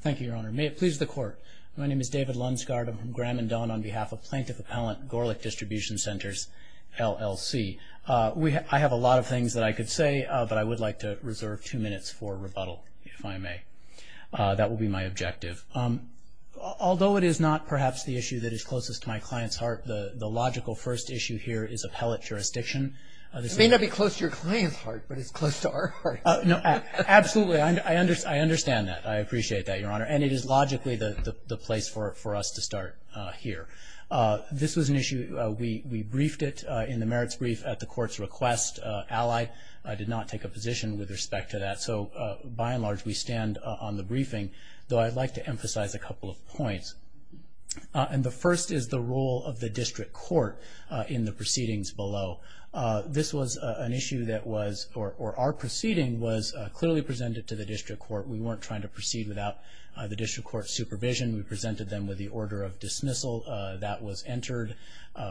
Thank you, Your Honor. May it please the Court. My name is David Lundsgaard. I'm from Graham and Dunn on behalf of Plaintiff Appellant Gorlick Distribution Centers LLC. I have a lot of things that I could say, but I would like to reserve two minutes for rebuttal, if I may. That will be my objective. Although it is not perhaps the issue that is closest to my client's heart, the logical first issue here is appellate jurisdiction. It may not be close to your client's heart, but it's close to our heart. No, absolutely. I understand that. I appreciate that, Your Honor. And it is logically the place for us to start here. This was an issue. We briefed it in the merits brief at the Court's request. Allied, I did not take a position with respect to that. So by and large, we stand on the briefing, though I'd like to emphasize a couple of points. And the first is the role of the district court in the proceedings below. This was an issue that was, or our proceeding, was clearly presented to the district court. We weren't trying to proceed without the district court supervision. We presented them with the order of dismissal that was entered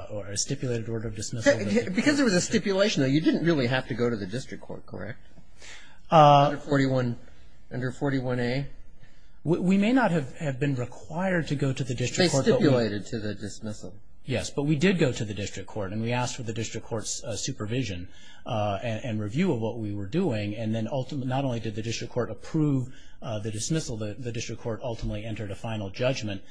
or a stipulated order of dismissal. Because there was a stipulation, though, you didn't really have to go to the district court, correct? Under 41A? We may not have have been required to go to the district court, but we did go to the district court. And we asked for the district court's supervision and review of what we were doing. And then ultimately, not only did the district court approve the dismissal, the district court ultimately entered a final judgment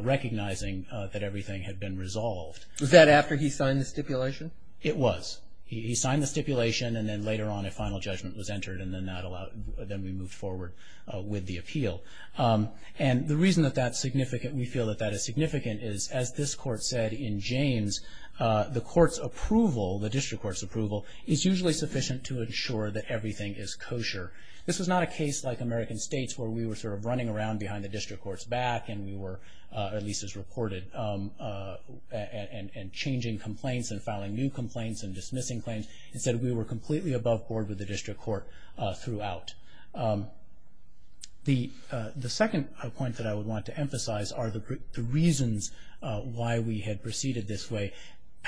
recognizing that everything had been resolved. Was that after he signed the stipulation? It was. He signed the stipulation and then later on a final judgment was entered and then that allowed, then we moved forward with the appeal. And the reason that that's significant, we feel that that is significant, is as this court said in James, the court's approval, the district court's approval, is usually sufficient to ensure that everything is kosher. This was not a case like American states where we were sort of running around behind the district court's back and we were, at least as reported, and changing complaints and filing new complaints and dismissing claims. Instead, we were completely above board with the district court throughout. The second point that I would want to emphasize are the reasons why we had proceeded this way.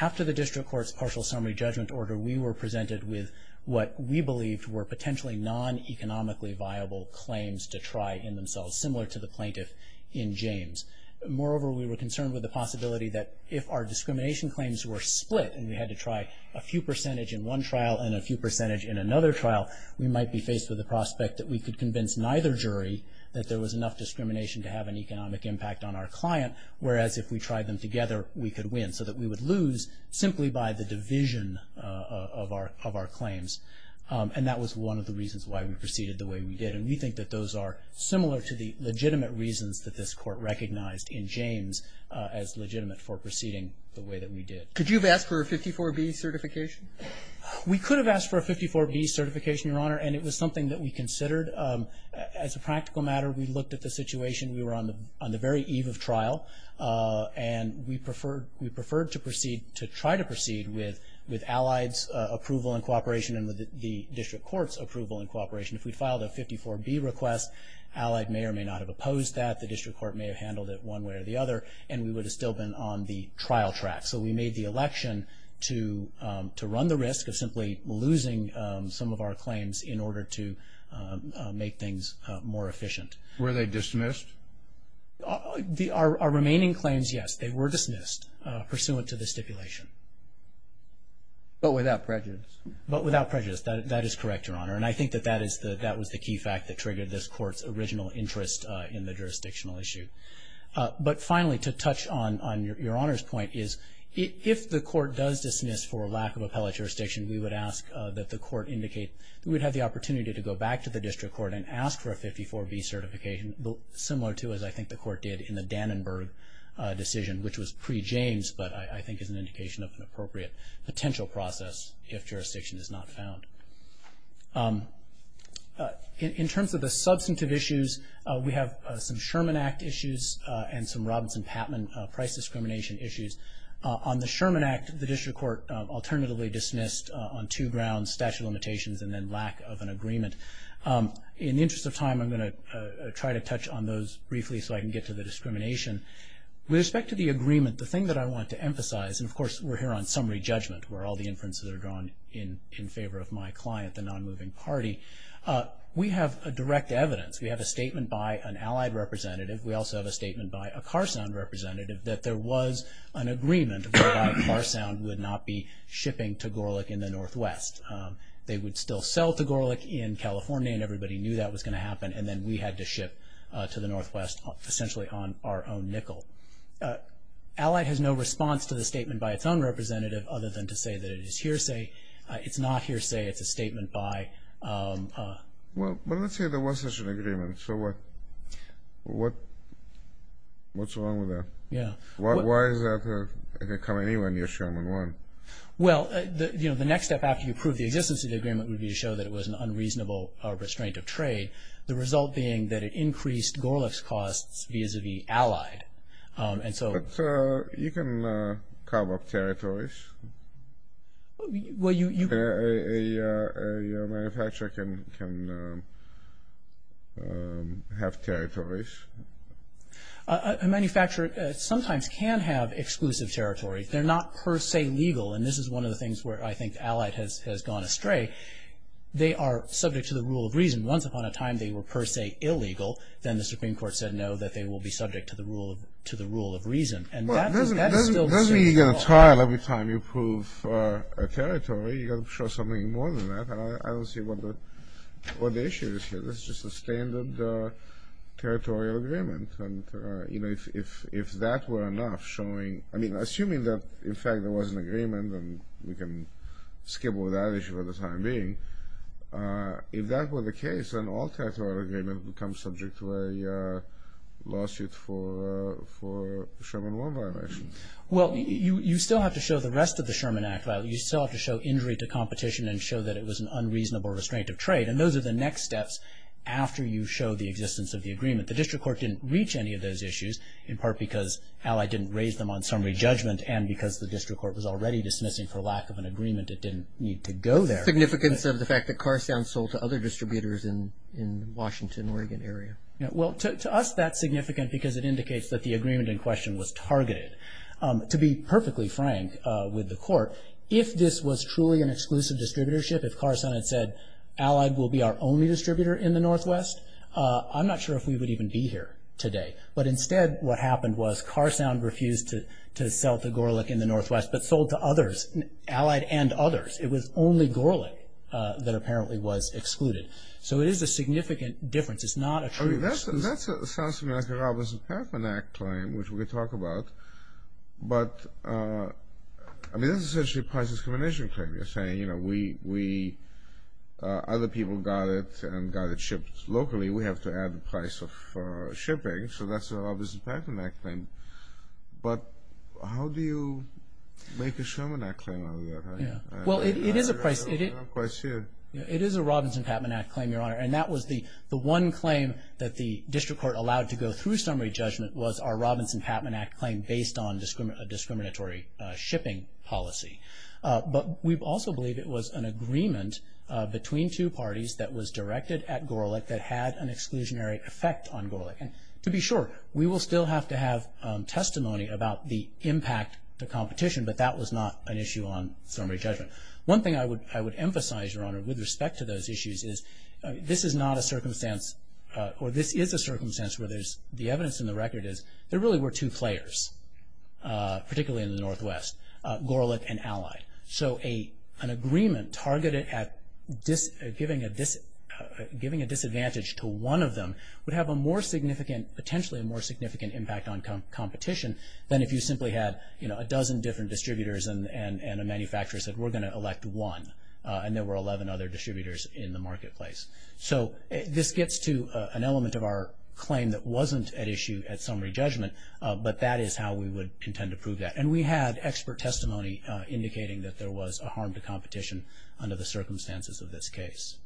After the district court's partial summary judgment order, we were presented with what we believed were potentially non-economically viable claims to try in themselves, similar to the plaintiff in James. Moreover, we were concerned with the possibility that if our discrimination claims were split and we had to try a few percentage in one trial and a few percentage in another trial, we might be faced with the prospect that we could convince neither jury that there was enough discrimination to have an economic impact on our client, whereas if we tried them together, we could win, so that we would lose simply by the division of our claims. And that was one of the reasons why we proceeded the way we did, and we think that those are similar to the legitimate reasons that this court recognized in James as legitimate for proceeding the way that we did. Could you have asked for a 54B certification? We could have asked for a 54B certification, Your Honor, and it was something that we considered as a practical matter. We looked at the situation. We were on the on the very eve of trial, and we preferred to proceed, to try to proceed with with Allied's approval and cooperation and with the district court's approval and cooperation. If we'd filed a 54B request, Allied may or may not have opposed that. The district court may have handled it one way or the other, and we would have still been on the trial track. So we made the election to to run the risk of simply losing some of our claims in order to make things more efficient. Were they dismissed? Our remaining claims, yes, they were dismissed pursuant to the stipulation. But without prejudice? But without prejudice. That is correct, Your Honor. And I think that that is the that was the key fact that triggered this court's original interest in the jurisdictional issue. But finally, to touch on Your Honor's point, is if the court does dismiss for lack of appellate jurisdiction, we would ask that the court indicate we would have the opportunity to go back to the district court and ask for a 54B certification, similar to as I think the court did in the Dannenberg decision, which was pre-James, but I think is an indication of an appropriate potential process if jurisdiction is not found. In terms of the substantive issues, we have some Sherman Act issues and some Robinson-Patman price discrimination issues. On the Sherman Act, the district court alternatively dismissed on two grounds, statute of limitations and then lack of an agreement. In the interest of time, I'm going to try to touch on those briefly so I can get to the discrimination. With respect to the agreement, the thing that I want to emphasize, and of course we're here on summary judgment where all the inferences are drawn in in favor of my client, the non-moving party, we have a direct evidence. We have a statement by an Allied representative. We also have a statement by a Carsound representative that there was an agreement that Carsound would not be shipping to Gorlick in the Northwest. They would still sell to Gorlick in California and everybody knew that was going to happen and then we had to ship to the Northwest essentially on our own nickel. Allied has no response to the statement by its own representative other than to say that it is hearsay. It's not hearsay. It's a statement by... Well, but let's say there was such an agreement. So what? What? What's wrong with that? Yeah. Why is that it could come anywhere near Sherman One? Well, you know, the next step after you prove the existence of the agreement would be to show that it was an unreasonable restraint of trade. The result being that it increased Gorlick's costs vis-a-vis Allied. And so... But you can carve up territories. Well, you... A manufacturer can have territories. A manufacturer sometimes can have exclusive territories. They're not per se legal and this is one of the things where I think Allied has gone astray. They are subject to the rule of reason. Once upon a time, they were per se illegal. Then the Supreme Court said no, that they will be subject to the rule of... to the rule of reason. And that is still... Doesn't mean you get a trial every time you prove a territory. You got to show something more than that. I don't see what the issue is here. This is just a standard territorial agreement. And, you know, if that were enough, showing... I mean, assuming that in fact there was an agreement and we can skim over that issue for the time being. If that were the case, then all territorial agreements would become subject to a lawsuit for Sherman One violations. Well, you still have to show the rest of the Sherman Act. You still have to show injury to competition and show that it was an unreasonable restraint of trade. And those are the next steps after you show the existence of the agreement. The district court didn't reach any of those issues, in part because Allied didn't raise them on summary judgment and because the district court was already dismissing for lack of an agreement, it didn't need to go there. Significance of the fact that Carsound sold to other distributors in Washington, Oregon area. Well, to us that's significant because it indicates that the agreement in question was targeted. To be perfectly frank with the court, if this was truly an exclusive distributorship, if Carsound had said Allied will be our only distributor in the Northwest, I'm not sure if we would even be here today. But instead what happened was Carsound refused to sell to Gorlick in the Northwest, but sold to others, Allied and others. It was only Gorlick that apparently was excluded. So it is a significant difference. It's not a true... That sounds to me like a Robinson-Patman Act claim, which we could talk about. But I mean, this is essentially a price discrimination claim. You're saying, you know, we other people got it and got it shipped locally. We have to add the price of shipping. So that's a Robinson-Patman Act claim. But how do you make a Sherman Act claim out of that? Well, it is a price... It is a Robinson-Patman Act claim, Your Honor. And that was the the one claim that the district court allowed to go through summary judgment was our Robinson-Patman Act claim based on discriminatory shipping policy. But we also believe it was an agreement between two parties that was directed at Gorlick that had an exclusionary effect on Gorlick. And to be sure, we will still have to have testimony about the impact to competition, but that was not an issue on summary judgment. One thing I would I would emphasize, Your Honor, with respect to those issues is this is not a circumstance, or this is a circumstance where there's the evidence in the record is there really were two players, particularly in the Northwest, Gorlick and Allied. So an agreement targeted at giving a disadvantage to one of them would have a more significant, potentially a more significant, impact on competition than if you simply had, you know, a dozen different distributors and a manufacturer said, we're going to elect one. And there were 11 other distributors in the marketplace. So this gets to an element of our claim that wasn't at issue at summary judgment, but that is how we would intend to prove that. And we had expert testimony indicating that there was a harm to competition under the circumstances of this case.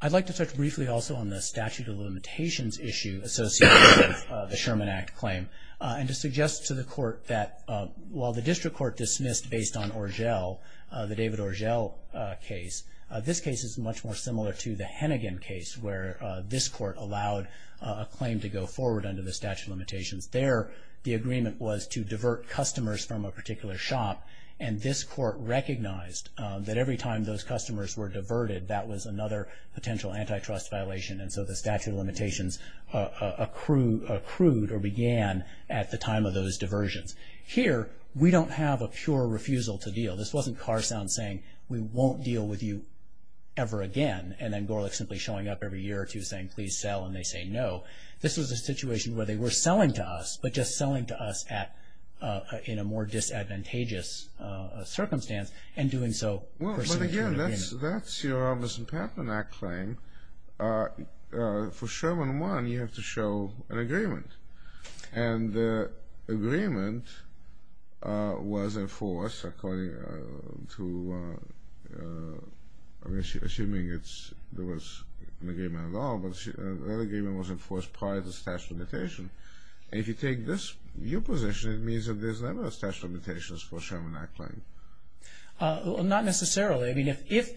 I'd like to touch briefly also on the statute of limitations issue associated with the Sherman Act claim. And to suggest to the court that while the district court dismissed based on Orgel, the David Orgel case, this case is much more similar to the Hennigan case where this court allowed a claim to go forward under the statute of limitations. There, the agreement was to divert customers from a particular shop, and this court recognized that every time those customers were diverted, that was another potential antitrust violation. And so the statute of limitations accrued or began at the time of those diversions. Here, we don't have a pure refusal to deal. This wasn't Carsound saying, we won't deal with you ever again, and then Gorlick simply showing up every year or two saying, please sell, and they say no. This was a situation where they were selling to us, but just selling to us at in a more disadvantageous circumstance, and doing so... Well, but again, that's your Robertson-Pattman Act claim. For Sherman 1, you have to show an agreement, and the agreement was enforced according to... assuming it's... there was an agreement at all, but the agreement was enforced prior to the statute of limitations. And if you take this view position, it means that there's never a statute of limitations for a Sherman Act claim. Well, not necessarily. I mean, if...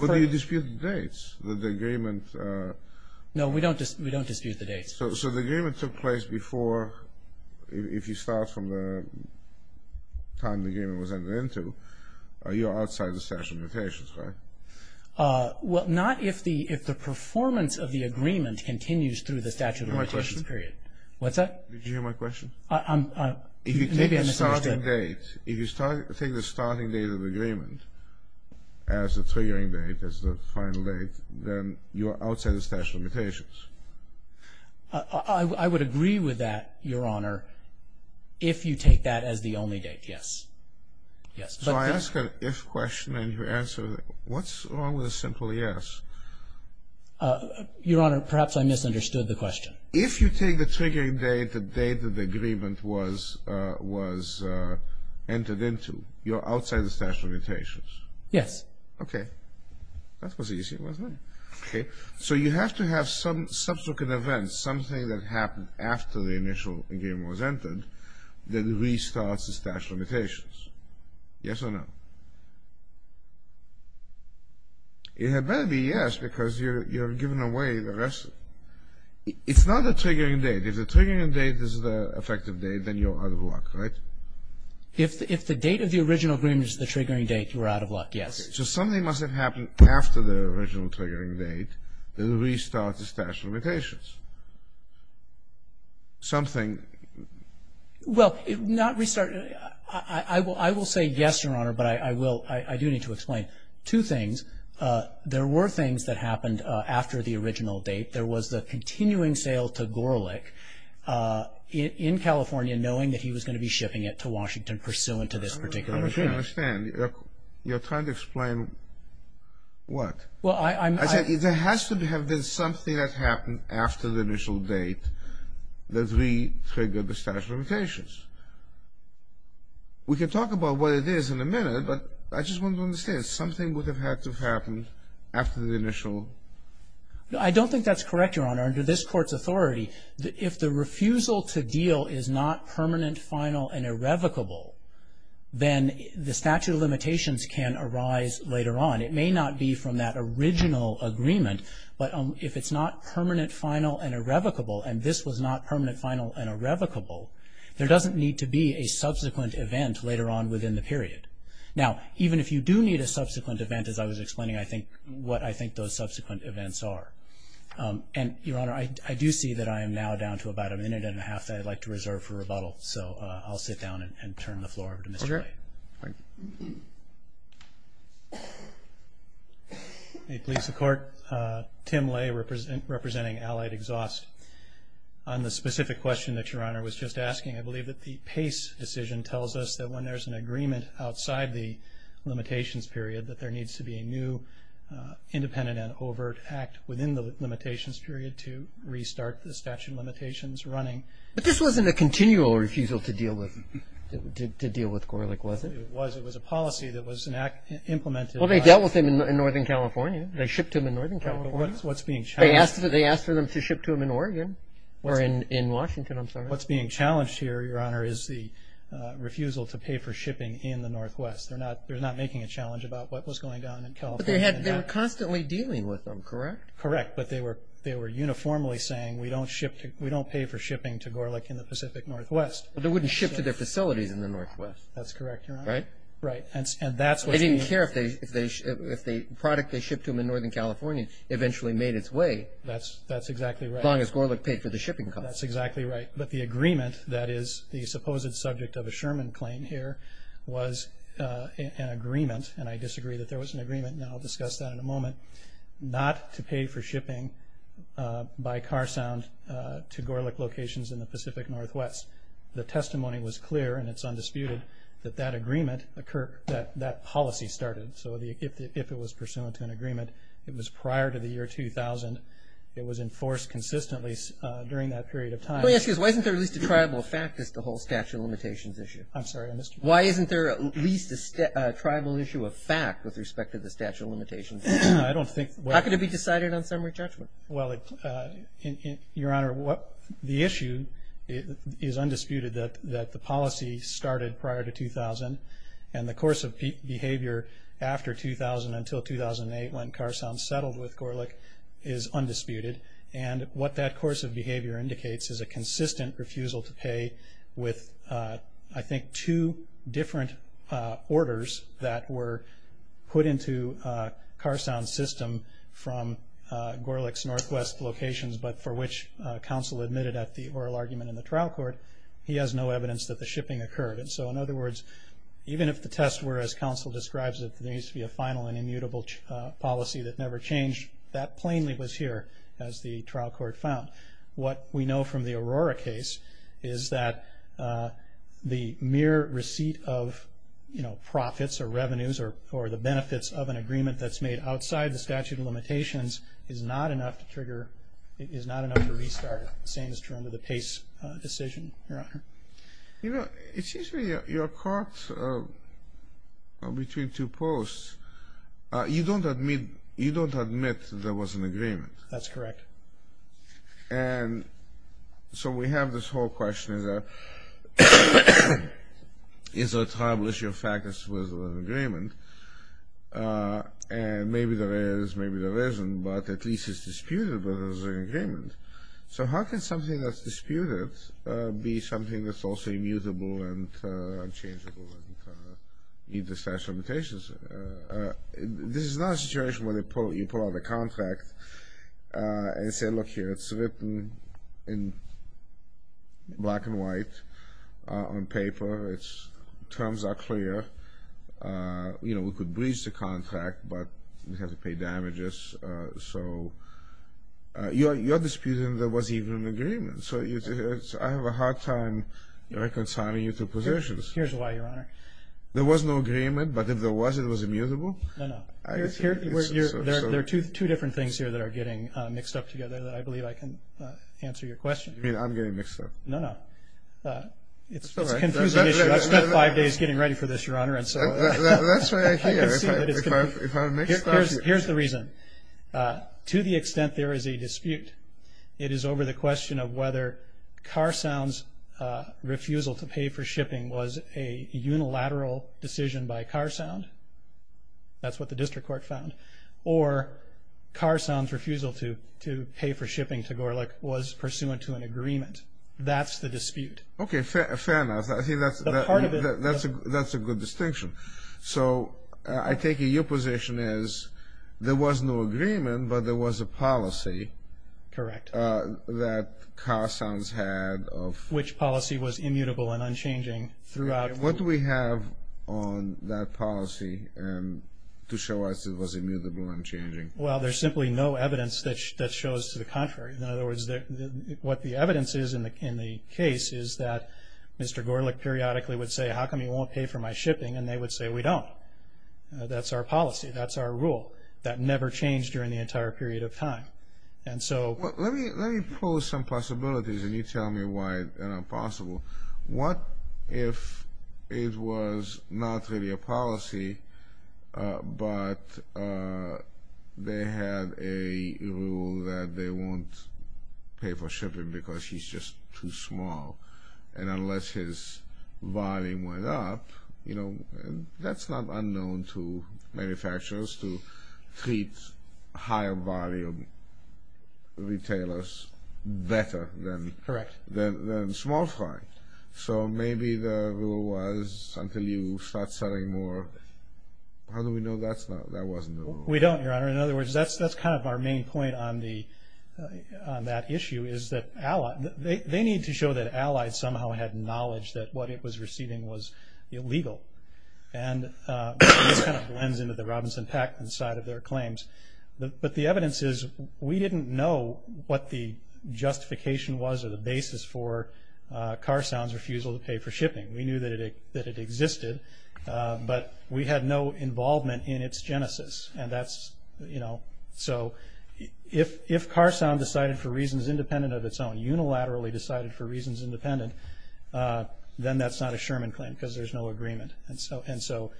Well, do you dispute the dates that the agreement... No, we don't dispute the dates. So the agreement took place before... if you start from the time the agreement was entered into, you're outside the statute of limitations, right? Well, not if the performance of the agreement continues through the statute of limitations period. What's that? Did you hear my question? I'm... maybe I misunderstood. If you take the starting date, if you start... if you take the starting date of the agreement as the triggering date, as the final date, then you are outside the statute of limitations. I would agree with that, Your Honor, if you take that as the only date, yes. Yes. So I ask an if question, and you answer, what's wrong with a simple yes? Your Honor, perhaps I misunderstood the question. If you take the triggering date, the date that the agreement was... was... entered into, you're outside the statute of limitations. Yes. Okay. That was easy, wasn't it? Okay. So you have to have some subsequent events, something that happened after the initial agreement was entered, that restarts the statute of limitations. Yes or no? It had better be yes, because you're giving away the rest. It's not the triggering date. If the triggering date is the effective date, then you're out of luck, right? If the date of the original agreement is the triggering date, you're out of luck, yes. So something must have happened after the original triggering date that restarts the statute of limitations. Something... Well, not restart... I will say yes, Your Honor, but I will... I do need to explain two things. There were things that happened after the original date. There was the continuing sale to Gorelick in California, knowing that he was going to be shipping it to Washington pursuant to this particular agreement. I don't understand. You're trying to explain what? Well, I'm... I said there has to have been something that happened after the initial date that re-triggered the statute of limitations. We can talk about what it is in a minute, but I just want to understand. Something would have had to have happened after the initial... I don't think that's correct, Your Honor. Under this Court's authority, if the refusal to deal is not permanent, final, and irrevocable, then the statute of limitations can arise later on. It may not be from that original agreement, but if it's not permanent, final, and irrevocable, and this was not permanent, final, and irrevocable, there doesn't need to be a subsequent event later on within the period. Now, even if you do need a subsequent event, as I was explaining, I think what I think those subsequent events are. And, Your Honor, I do see that I am now down to about a minute and a half that I'd like to reserve for rebuttal. So, I'll sit down and turn the floor over to Mr. Lay. Thank you. May it please the Court, Tim Lay representing Allied Exhaust. On the specific question that Your Honor was just asking, I believe that the Pace decision tells us that when there's an agreement outside the limitations period that there needs to be a new independent and overt act within the limitations period to restart the statute of limitations running. But this wasn't a continual refusal to deal with Gorlick, was it? It was. It was a policy that was implemented. Well, they dealt with him in Northern California. They shipped him in Northern California. What's being challenged? What's being challenged here, Your Honor, is the refusal to pay for shipping in the Northwest. They're not making a challenge about what was going on in California. But they were constantly dealing with him, correct? Correct. But they were uniformly saying, we don't pay for shipping to Gorlick in the Pacific Northwest. But they wouldn't ship to their facilities in the Northwest. That's correct, Your Honor. Right? Right. They didn't care if the product they shipped to him in Northern California eventually made its way. That's exactly right. As long as Gorlick paid for the shipping costs. That's exactly right. But the agreement that is the supposed subject of a Sherman claim here was an agreement, and I disagree that there was an agreement, and I'll discuss that in a moment, not to pay for shipping by car sound to Gorlick locations in the Pacific Northwest. The testimony was clear, and it's undisputed, that that policy started. So if it was pursuant to an agreement, it was prior to the year 2000. It was enforced consistently during that period of time. Let me ask you this. Why isn't there at least a tribal fact as to the whole statute of limitations issue? I'm sorry, I missed you. Why isn't there at least a tribal issue of fact with respect to the statute of limitations? I don't think. How could it be decided on summary judgment? Well, Your Honor, the issue is undisputed that the policy started prior to 2000, and the course of behavior after 2000 until 2008 when Car Sound settled with Gorlick is undisputed. And what that course of behavior indicates is a consistent refusal to pay with, I think, two different orders that were put into Car Sound's system from Gorlick's Northwest locations, but for which counsel admitted at the oral argument in the trial court, he has no evidence that the shipping occurred. And so, in other words, even if the tests were, as counsel describes it, there needs to be a final and immutable policy that never changed, that plainly was here as the trial court found. What we know from the Aurora case is that the mere receipt of, you know, profits or revenues or the benefits of an agreement that's made outside the statute of limitations is not enough to trigger, is not enough to restart, same is true under the Pace decision, Your Honor. You know, it seems to me you're caught between two posts. You don't admit there was an agreement. That's correct. And so we have this whole question, is there a tribal issue of factors with an agreement? And maybe there is, maybe there isn't, but at least it's disputed that there was an agreement. So how can something that's disputed be something that's also immutable and unchangeable and meet the statute of limitations? This is not a situation where you pull out a contract and say, look here, it's written in black and white on paper, it's, terms are clear, you know, we could breach the contract, but we have to pay damages. So you're disputing there was even an agreement. So I have a hard time reconciling you two positions. Here's why, Your Honor. There was no agreement, but if there was, it was immutable? No, no. There are two different things here that are getting mixed up together that I believe I can answer your question. You mean I'm getting mixed up? No, no. It's a confusing issue. I spent five days getting ready for this, Your Honor, and so. That's why I'm here, if I'm mixed up. Here's the reason. To the extent there is a dispute, it is over the question of whether Carsound's refusal to pay for shipping was a unilateral decision by Carsound, that's what the district court found, or Carsound's refusal to pay for shipping to Gorlick was pursuant to an agreement. That's the dispute. Okay, fair enough. I think that's a good distinction. So I take it your position is there was no agreement, but there was a policy. Correct. That Carsound's had of. Which policy was immutable and unchanging throughout. What do we have on that policy to show us it was immutable and unchanging? Well, there's simply no evidence that shows to the contrary. In other words, what the evidence is in the case is that Mr. Gorlick periodically would say, how come you won't pay for my shipping? And they would say, we don't. That's our policy. That's our rule. That never changed during the entire period of time. And so. Well, let me pose some possibilities, and you tell me why they're not possible. What if it was not really a policy, but they had a rule that they won't pay for shipping because he's just too small. And unless his volume went up, that's not unknown to manufacturers to treat higher volume retailers better than small fry. So maybe the rule was, until you start selling more. How do we know that wasn't the rule? We don't, Your Honor. In other words, that's kind of our main point on that issue, is that they need to show that Allies somehow had knowledge that what it was receiving was illegal. And this kind of blends into the Robinson-Packard side of their claims. But the evidence is, we didn't know what the justification was or the basis for Carsound's refusal to pay for shipping. We knew that it existed, but we had no involvement in its genesis. And that's, you know, so if Carsound decided for reasons independent of its own, unilaterally decided for reasons independent, then that's not a Sherman claim because there's no agreement. And so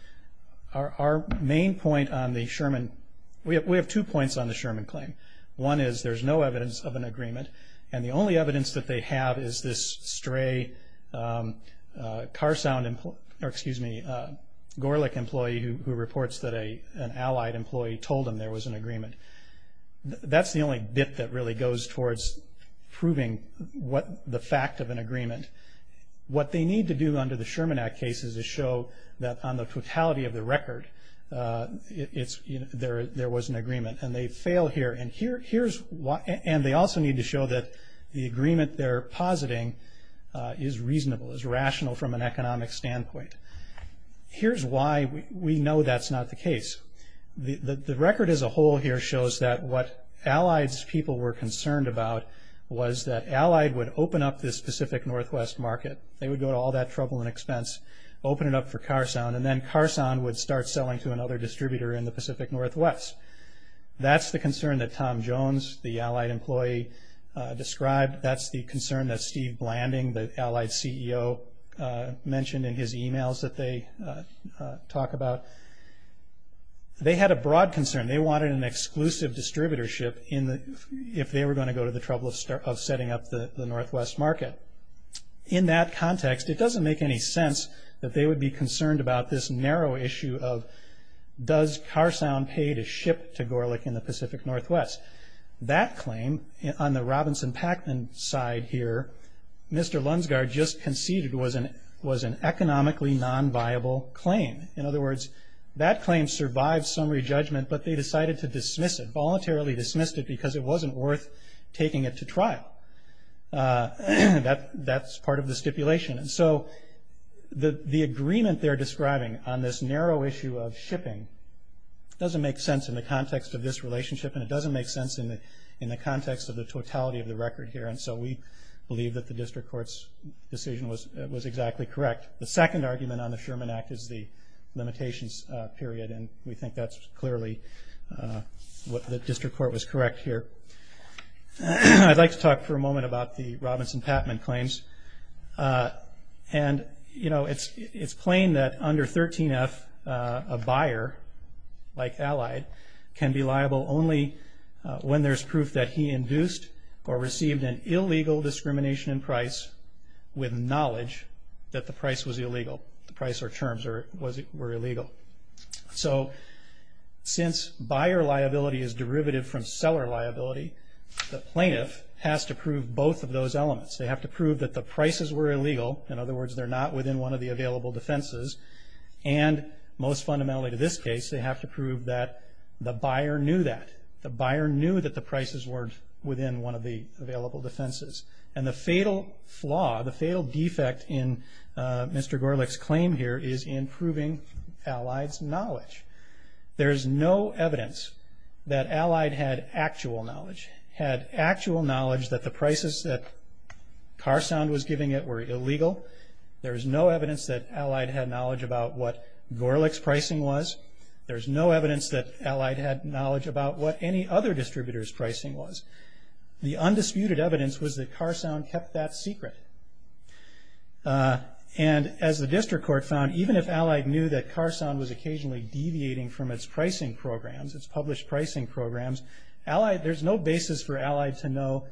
our main point on the Sherman, we have two points on the Sherman claim. One is, there's no evidence of an agreement. And the only evidence that they have is this stray Carsound, or excuse me, Gorlick employee who reports that an Allied employee told him there was an agreement. That's the only bit that really goes towards proving what the fact of an agreement. What they need to do under the Sherman Act case is to show that on the totality of the record, it's, you know, there was an agreement. And they fail here. And here's why, and they also need to show that the agreement they're positing is reasonable, is rational from an economic standpoint. Here's why we know that's not the case. The record as a whole here shows that what Allied's people were concerned about was that Allied would open up this Pacific Northwest market. They would go to all that trouble and expense, open it up for Carsound, and then Carsound would start selling to another distributor in the Pacific Northwest. That's the concern that Tom Jones, the Allied employee, described. That's the concern that Steve Blanding, the Allied CEO, mentioned in his emails that they talk about. They had a broad concern. They wanted an exclusive distributorship if they were going to go to the trouble of setting up the Northwest market. In that context, it doesn't make any sense that they would be concerned about this narrow issue of does Carsound pay to ship to Gorlick in the Pacific Northwest. That claim, on the Robinson-Packman side here, Mr. Lunsgaard just conceded was an economically non-viable claim. In other words, that claim survived summary judgment, but they decided to dismiss it, voluntarily dismissed it, because it wasn't worth taking it to trial. That's part of the stipulation. And so the agreement they're describing on this narrow issue of shipping doesn't make sense in the context of this relationship, and it doesn't make sense in the context of the totality of the record here. And so we believe that the district court's decision was exactly correct. The second argument on the Sherman Act is the limitations period, and we think that's clearly what the district court was correct here. I'd like to talk for a moment about the Robinson-Packman claims. And, you know, it's plain that under 13F, a buyer, like Allied, can be liable only when there's proof that he induced or received an illegal discrimination in price with knowledge that the price was illegal, the price or terms were illegal. So since buyer liability is derivative from seller liability, the plaintiff has to prove both of those elements. They have to prove that the prices were illegal. In other words, they're not within one of the available defenses. And most fundamentally to this case, they have to prove that the buyer knew that. The buyer knew that the prices were within one of the available defenses. And the fatal flaw, the fatal defect in Mr. Gorelick's claim here is in proving Allied's knowledge. There's no evidence that Allied had actual knowledge, had actual knowledge that the prices that Carsound was giving it were illegal. There's no evidence that Allied had knowledge about what Gorelick's pricing was. There's no evidence that Allied had knowledge about what any other distributor's pricing was. The undisputed evidence was that Carsound kept that secret. And as the district court found, even if Allied knew that Carsound was occasionally deviating from its pricing programs, its published pricing programs, Allied, there's no basis for Allied to know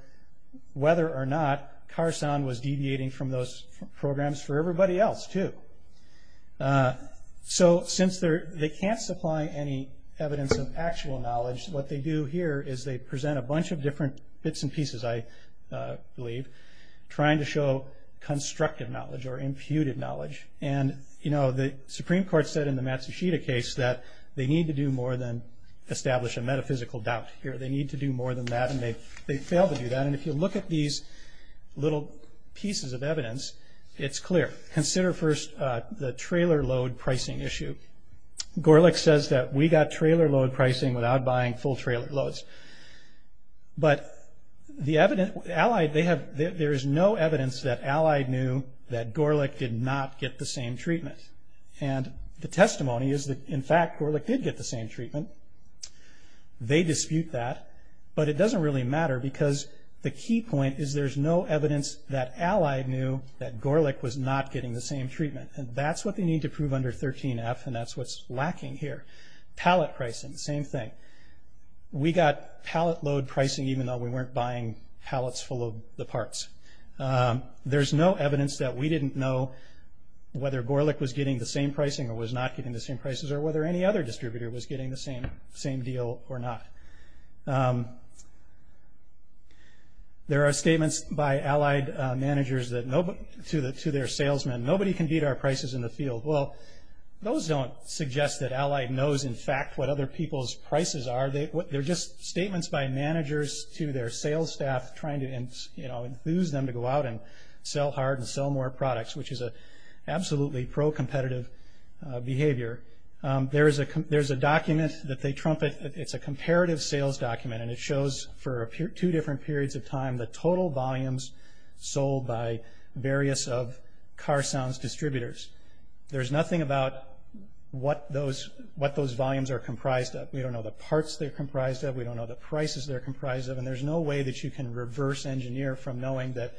whether or not Carsound was deviating from those programs for everybody else too. So since they can't supply any evidence of actual knowledge, what they do here is they present a bunch of different bits and pieces, I believe, trying to show constructive knowledge or imputed knowledge. And, you know, the Supreme Court said in the Matsushita case that they need to do more than establish a metaphysical doubt here. They need to do more than that, and they failed to do that. And if you look at these little pieces of evidence, it's clear. Consider first the trailer load pricing issue. Gorelick says that we got trailer load pricing without buying full trailer loads. But the evidence, Allied, they have, there is no evidence that Allied knew that Gorelick did not get the same treatment. And the testimony is that, in fact, Gorelick did get the same treatment. They dispute that. But it doesn't really matter because the key point is there's no evidence that Allied knew that Gorelick was not getting the same treatment. And that's what they need to prove under 13F, and that's what's lacking here. Pallet pricing, same thing. We got pallet load pricing even though we weren't buying pallets full of the parts. There's no evidence that we didn't know whether Gorelick was getting the same pricing or was not getting the same prices, or whether any other distributor was getting the same deal or not. There are statements by Allied managers to their salesmen. Nobody can beat our prices in the field. Well, those don't suggest that Allied knows, in fact, what other people's prices are. They're just statements by managers to their sales staff trying to enthuse them to go out and sell hard and sell more products, which is an absolutely pro-competitive behavior. There's a document that they trumpet, it's a comparative sales document, and it shows for two different periods of time the total volumes sold by various of Carsound's distributors. There's nothing about what those volumes are comprised of. We don't know the parts they're comprised of. We don't know the prices they're comprised of. And there's no way that you can reverse engineer from knowing that,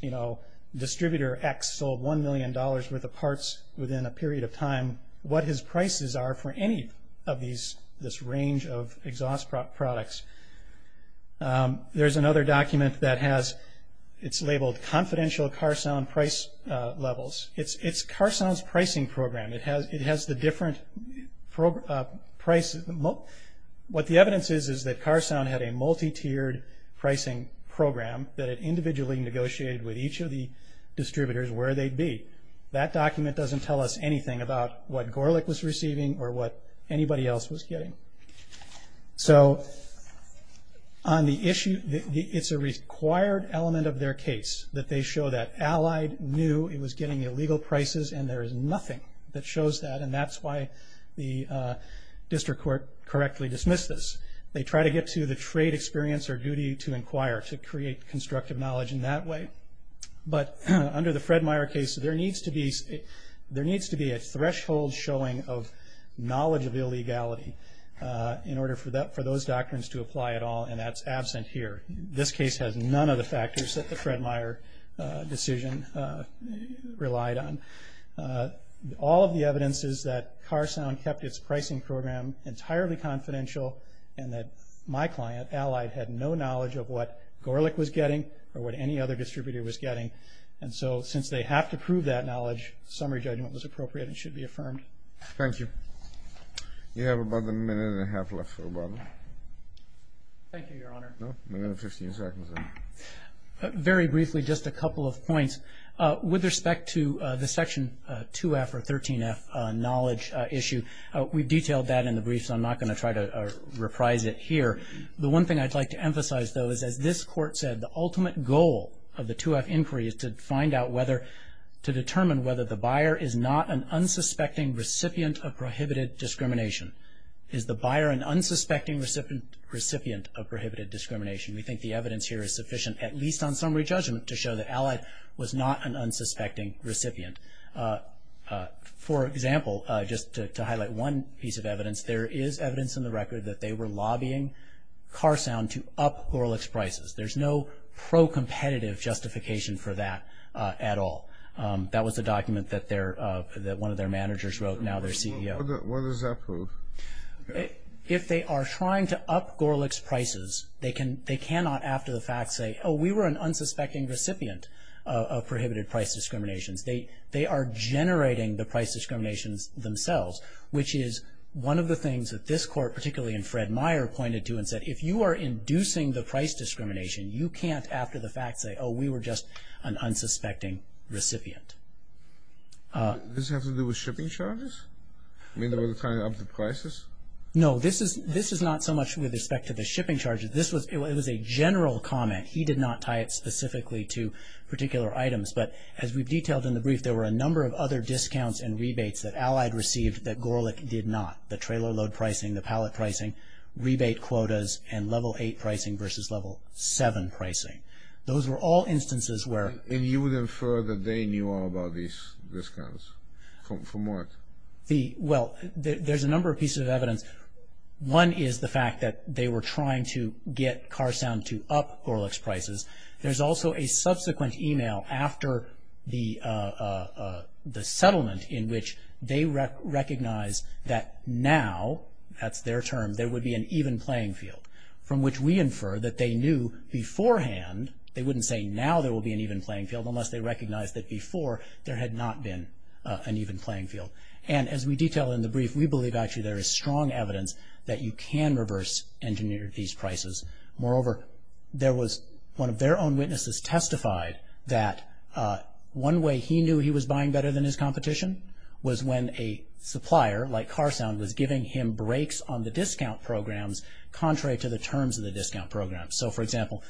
you know, distributor X sold $1 million worth of parts within a period of time what his prices are for any of these, this range of exhaust products. There's another document that has, it's labeled Confidential Carsound Price Levels. It's Carsound's pricing program. It has the different price, what the evidence is, that Carsound had a multi-tiered pricing program that it individually negotiated with each of the distributors where they'd be. That document doesn't tell us anything about what Gorlick was receiving or what anybody else was getting. So, on the issue, it's a required element of their case that they show that Allied knew it was getting illegal prices and there is nothing that shows that, and that's why the district court correctly dismissed this. They try to get to the trade experience or duty to inquire, to create constructive knowledge in that way. But under the Fred Meyer case, there needs to be a threshold showing of knowledge of illegality in order for those doctrines to apply at all, and that's absent here. This case has none of the factors that the Fred Meyer decision relied on. All of the evidence is that Carsound kept its pricing program entirely confidential and that my client, Allied, had no knowledge of what Gorlick was getting or what any other distributor was getting. And so, since they have to prove that knowledge, summary judgment was appropriate and should be affirmed. Thank you. You have about a minute and a half left, sir, Bob. Thank you, Your Honor. No, a minute and 15 seconds. Very briefly, just a couple of points. With respect to the Section 2F or 13F knowledge issue, we've detailed that in the brief, so I'm not going to try to reprise it here. The one thing I'd like to emphasize, though, is as this Court said, the ultimate goal of the 2F inquiry is to find out whether, to determine whether the buyer is not an unsuspecting recipient of prohibited discrimination. Is the buyer an unsuspecting recipient of prohibited discrimination? We think the evidence here is sufficient, at least on summary judgment, to show that Allied was not an unsuspecting recipient. For example, just to highlight one piece of evidence, there is evidence in the record that they were lobbying Carsound to up Gorlick's prices. There's no pro-competitive justification for that at all. That was a document that one of their managers wrote, now their CEO. What does that prove? If they are trying to up Gorlick's prices, they cannot, after the fact, say, oh, we were an unsuspecting recipient of prohibited price discriminations. They are generating the price discriminations themselves, which is one of the things that this Court, particularly in Fred Meyer, pointed to and said, if you are inducing the price discrimination, you can't, after the fact, say, oh, we were just an unsuspecting recipient. Does this have to do with shipping charges? I mean, they were trying to up the prices? No, this is not so much with respect to the shipping charges. This was a general comment. He did not tie it specifically to particular items. But as we've detailed in the brief, there were a number of other discounts and rebates that Allied received that Gorlick did not, the trailer load pricing, the pallet pricing, rebate quotas, and level 8 pricing versus level 7 pricing. Those were all instances where... And you would infer that they knew all about these discounts? From what? Well, there's a number of pieces of evidence. One is the fact that they were trying to get Carsound to up Gorlick's prices. There's also a subsequent email after the settlement in which they recognized that now, that's their term, there would be an even playing field. From which we infer that they knew beforehand, they wouldn't say now there would be an even playing field unless they recognized that before there had not been an even playing field. And as we detail in the brief, we believe actually there is strong evidence that you can reverse engineer these prices. Moreover, one of their own witnesses testified that one way he knew he was buying better than his competition was when a supplier like Carsound was giving him breaks on the discount programs contrary to the terms of the discount program. So for example,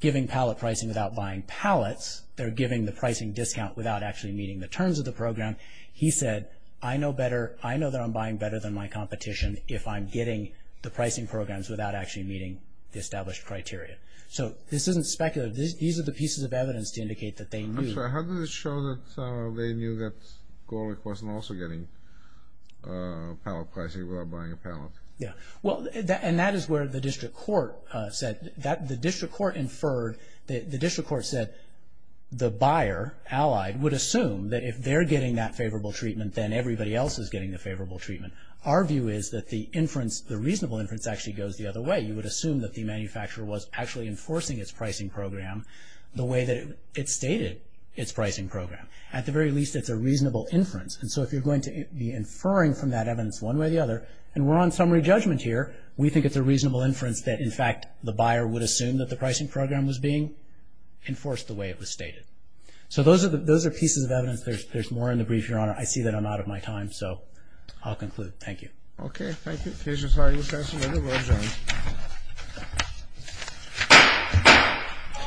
giving pallet pricing without buying pallets, they're giving the pricing discount without actually meeting the terms of the program. He said, I know that I'm buying better than my competition if I'm getting the pricing programs without actually meeting the established criteria. So this isn't speculative. These are the pieces of evidence to indicate that they knew. I'm sorry, how did it show that they knew that Gorlick wasn't also getting pallet pricing without buying a pallet? Yeah. Well, and that is where the district court said, the district court inferred, the district court said the buyer, allied, would assume that if they're getting that favorable treatment, then everybody else is getting the favorable treatment. Our view is that the inference, the reasonable inference, actually goes the other way. You would assume that the manufacturer was actually enforcing its pricing program the way that it stated its pricing program. At the very least, it's a reasonable inference. And so if you're going to be inferring from that evidence one way or the other, and we're on summary judgment here, we think it's a reasonable inference that, in fact, the buyer would assume that the pricing program was being enforced the way it was stated. There's more in the brief, Your Honor. I see that I'm out of my time, so I'll conclude. Thank you. Okay, thank you. The case is highly reasonable, Your Honor.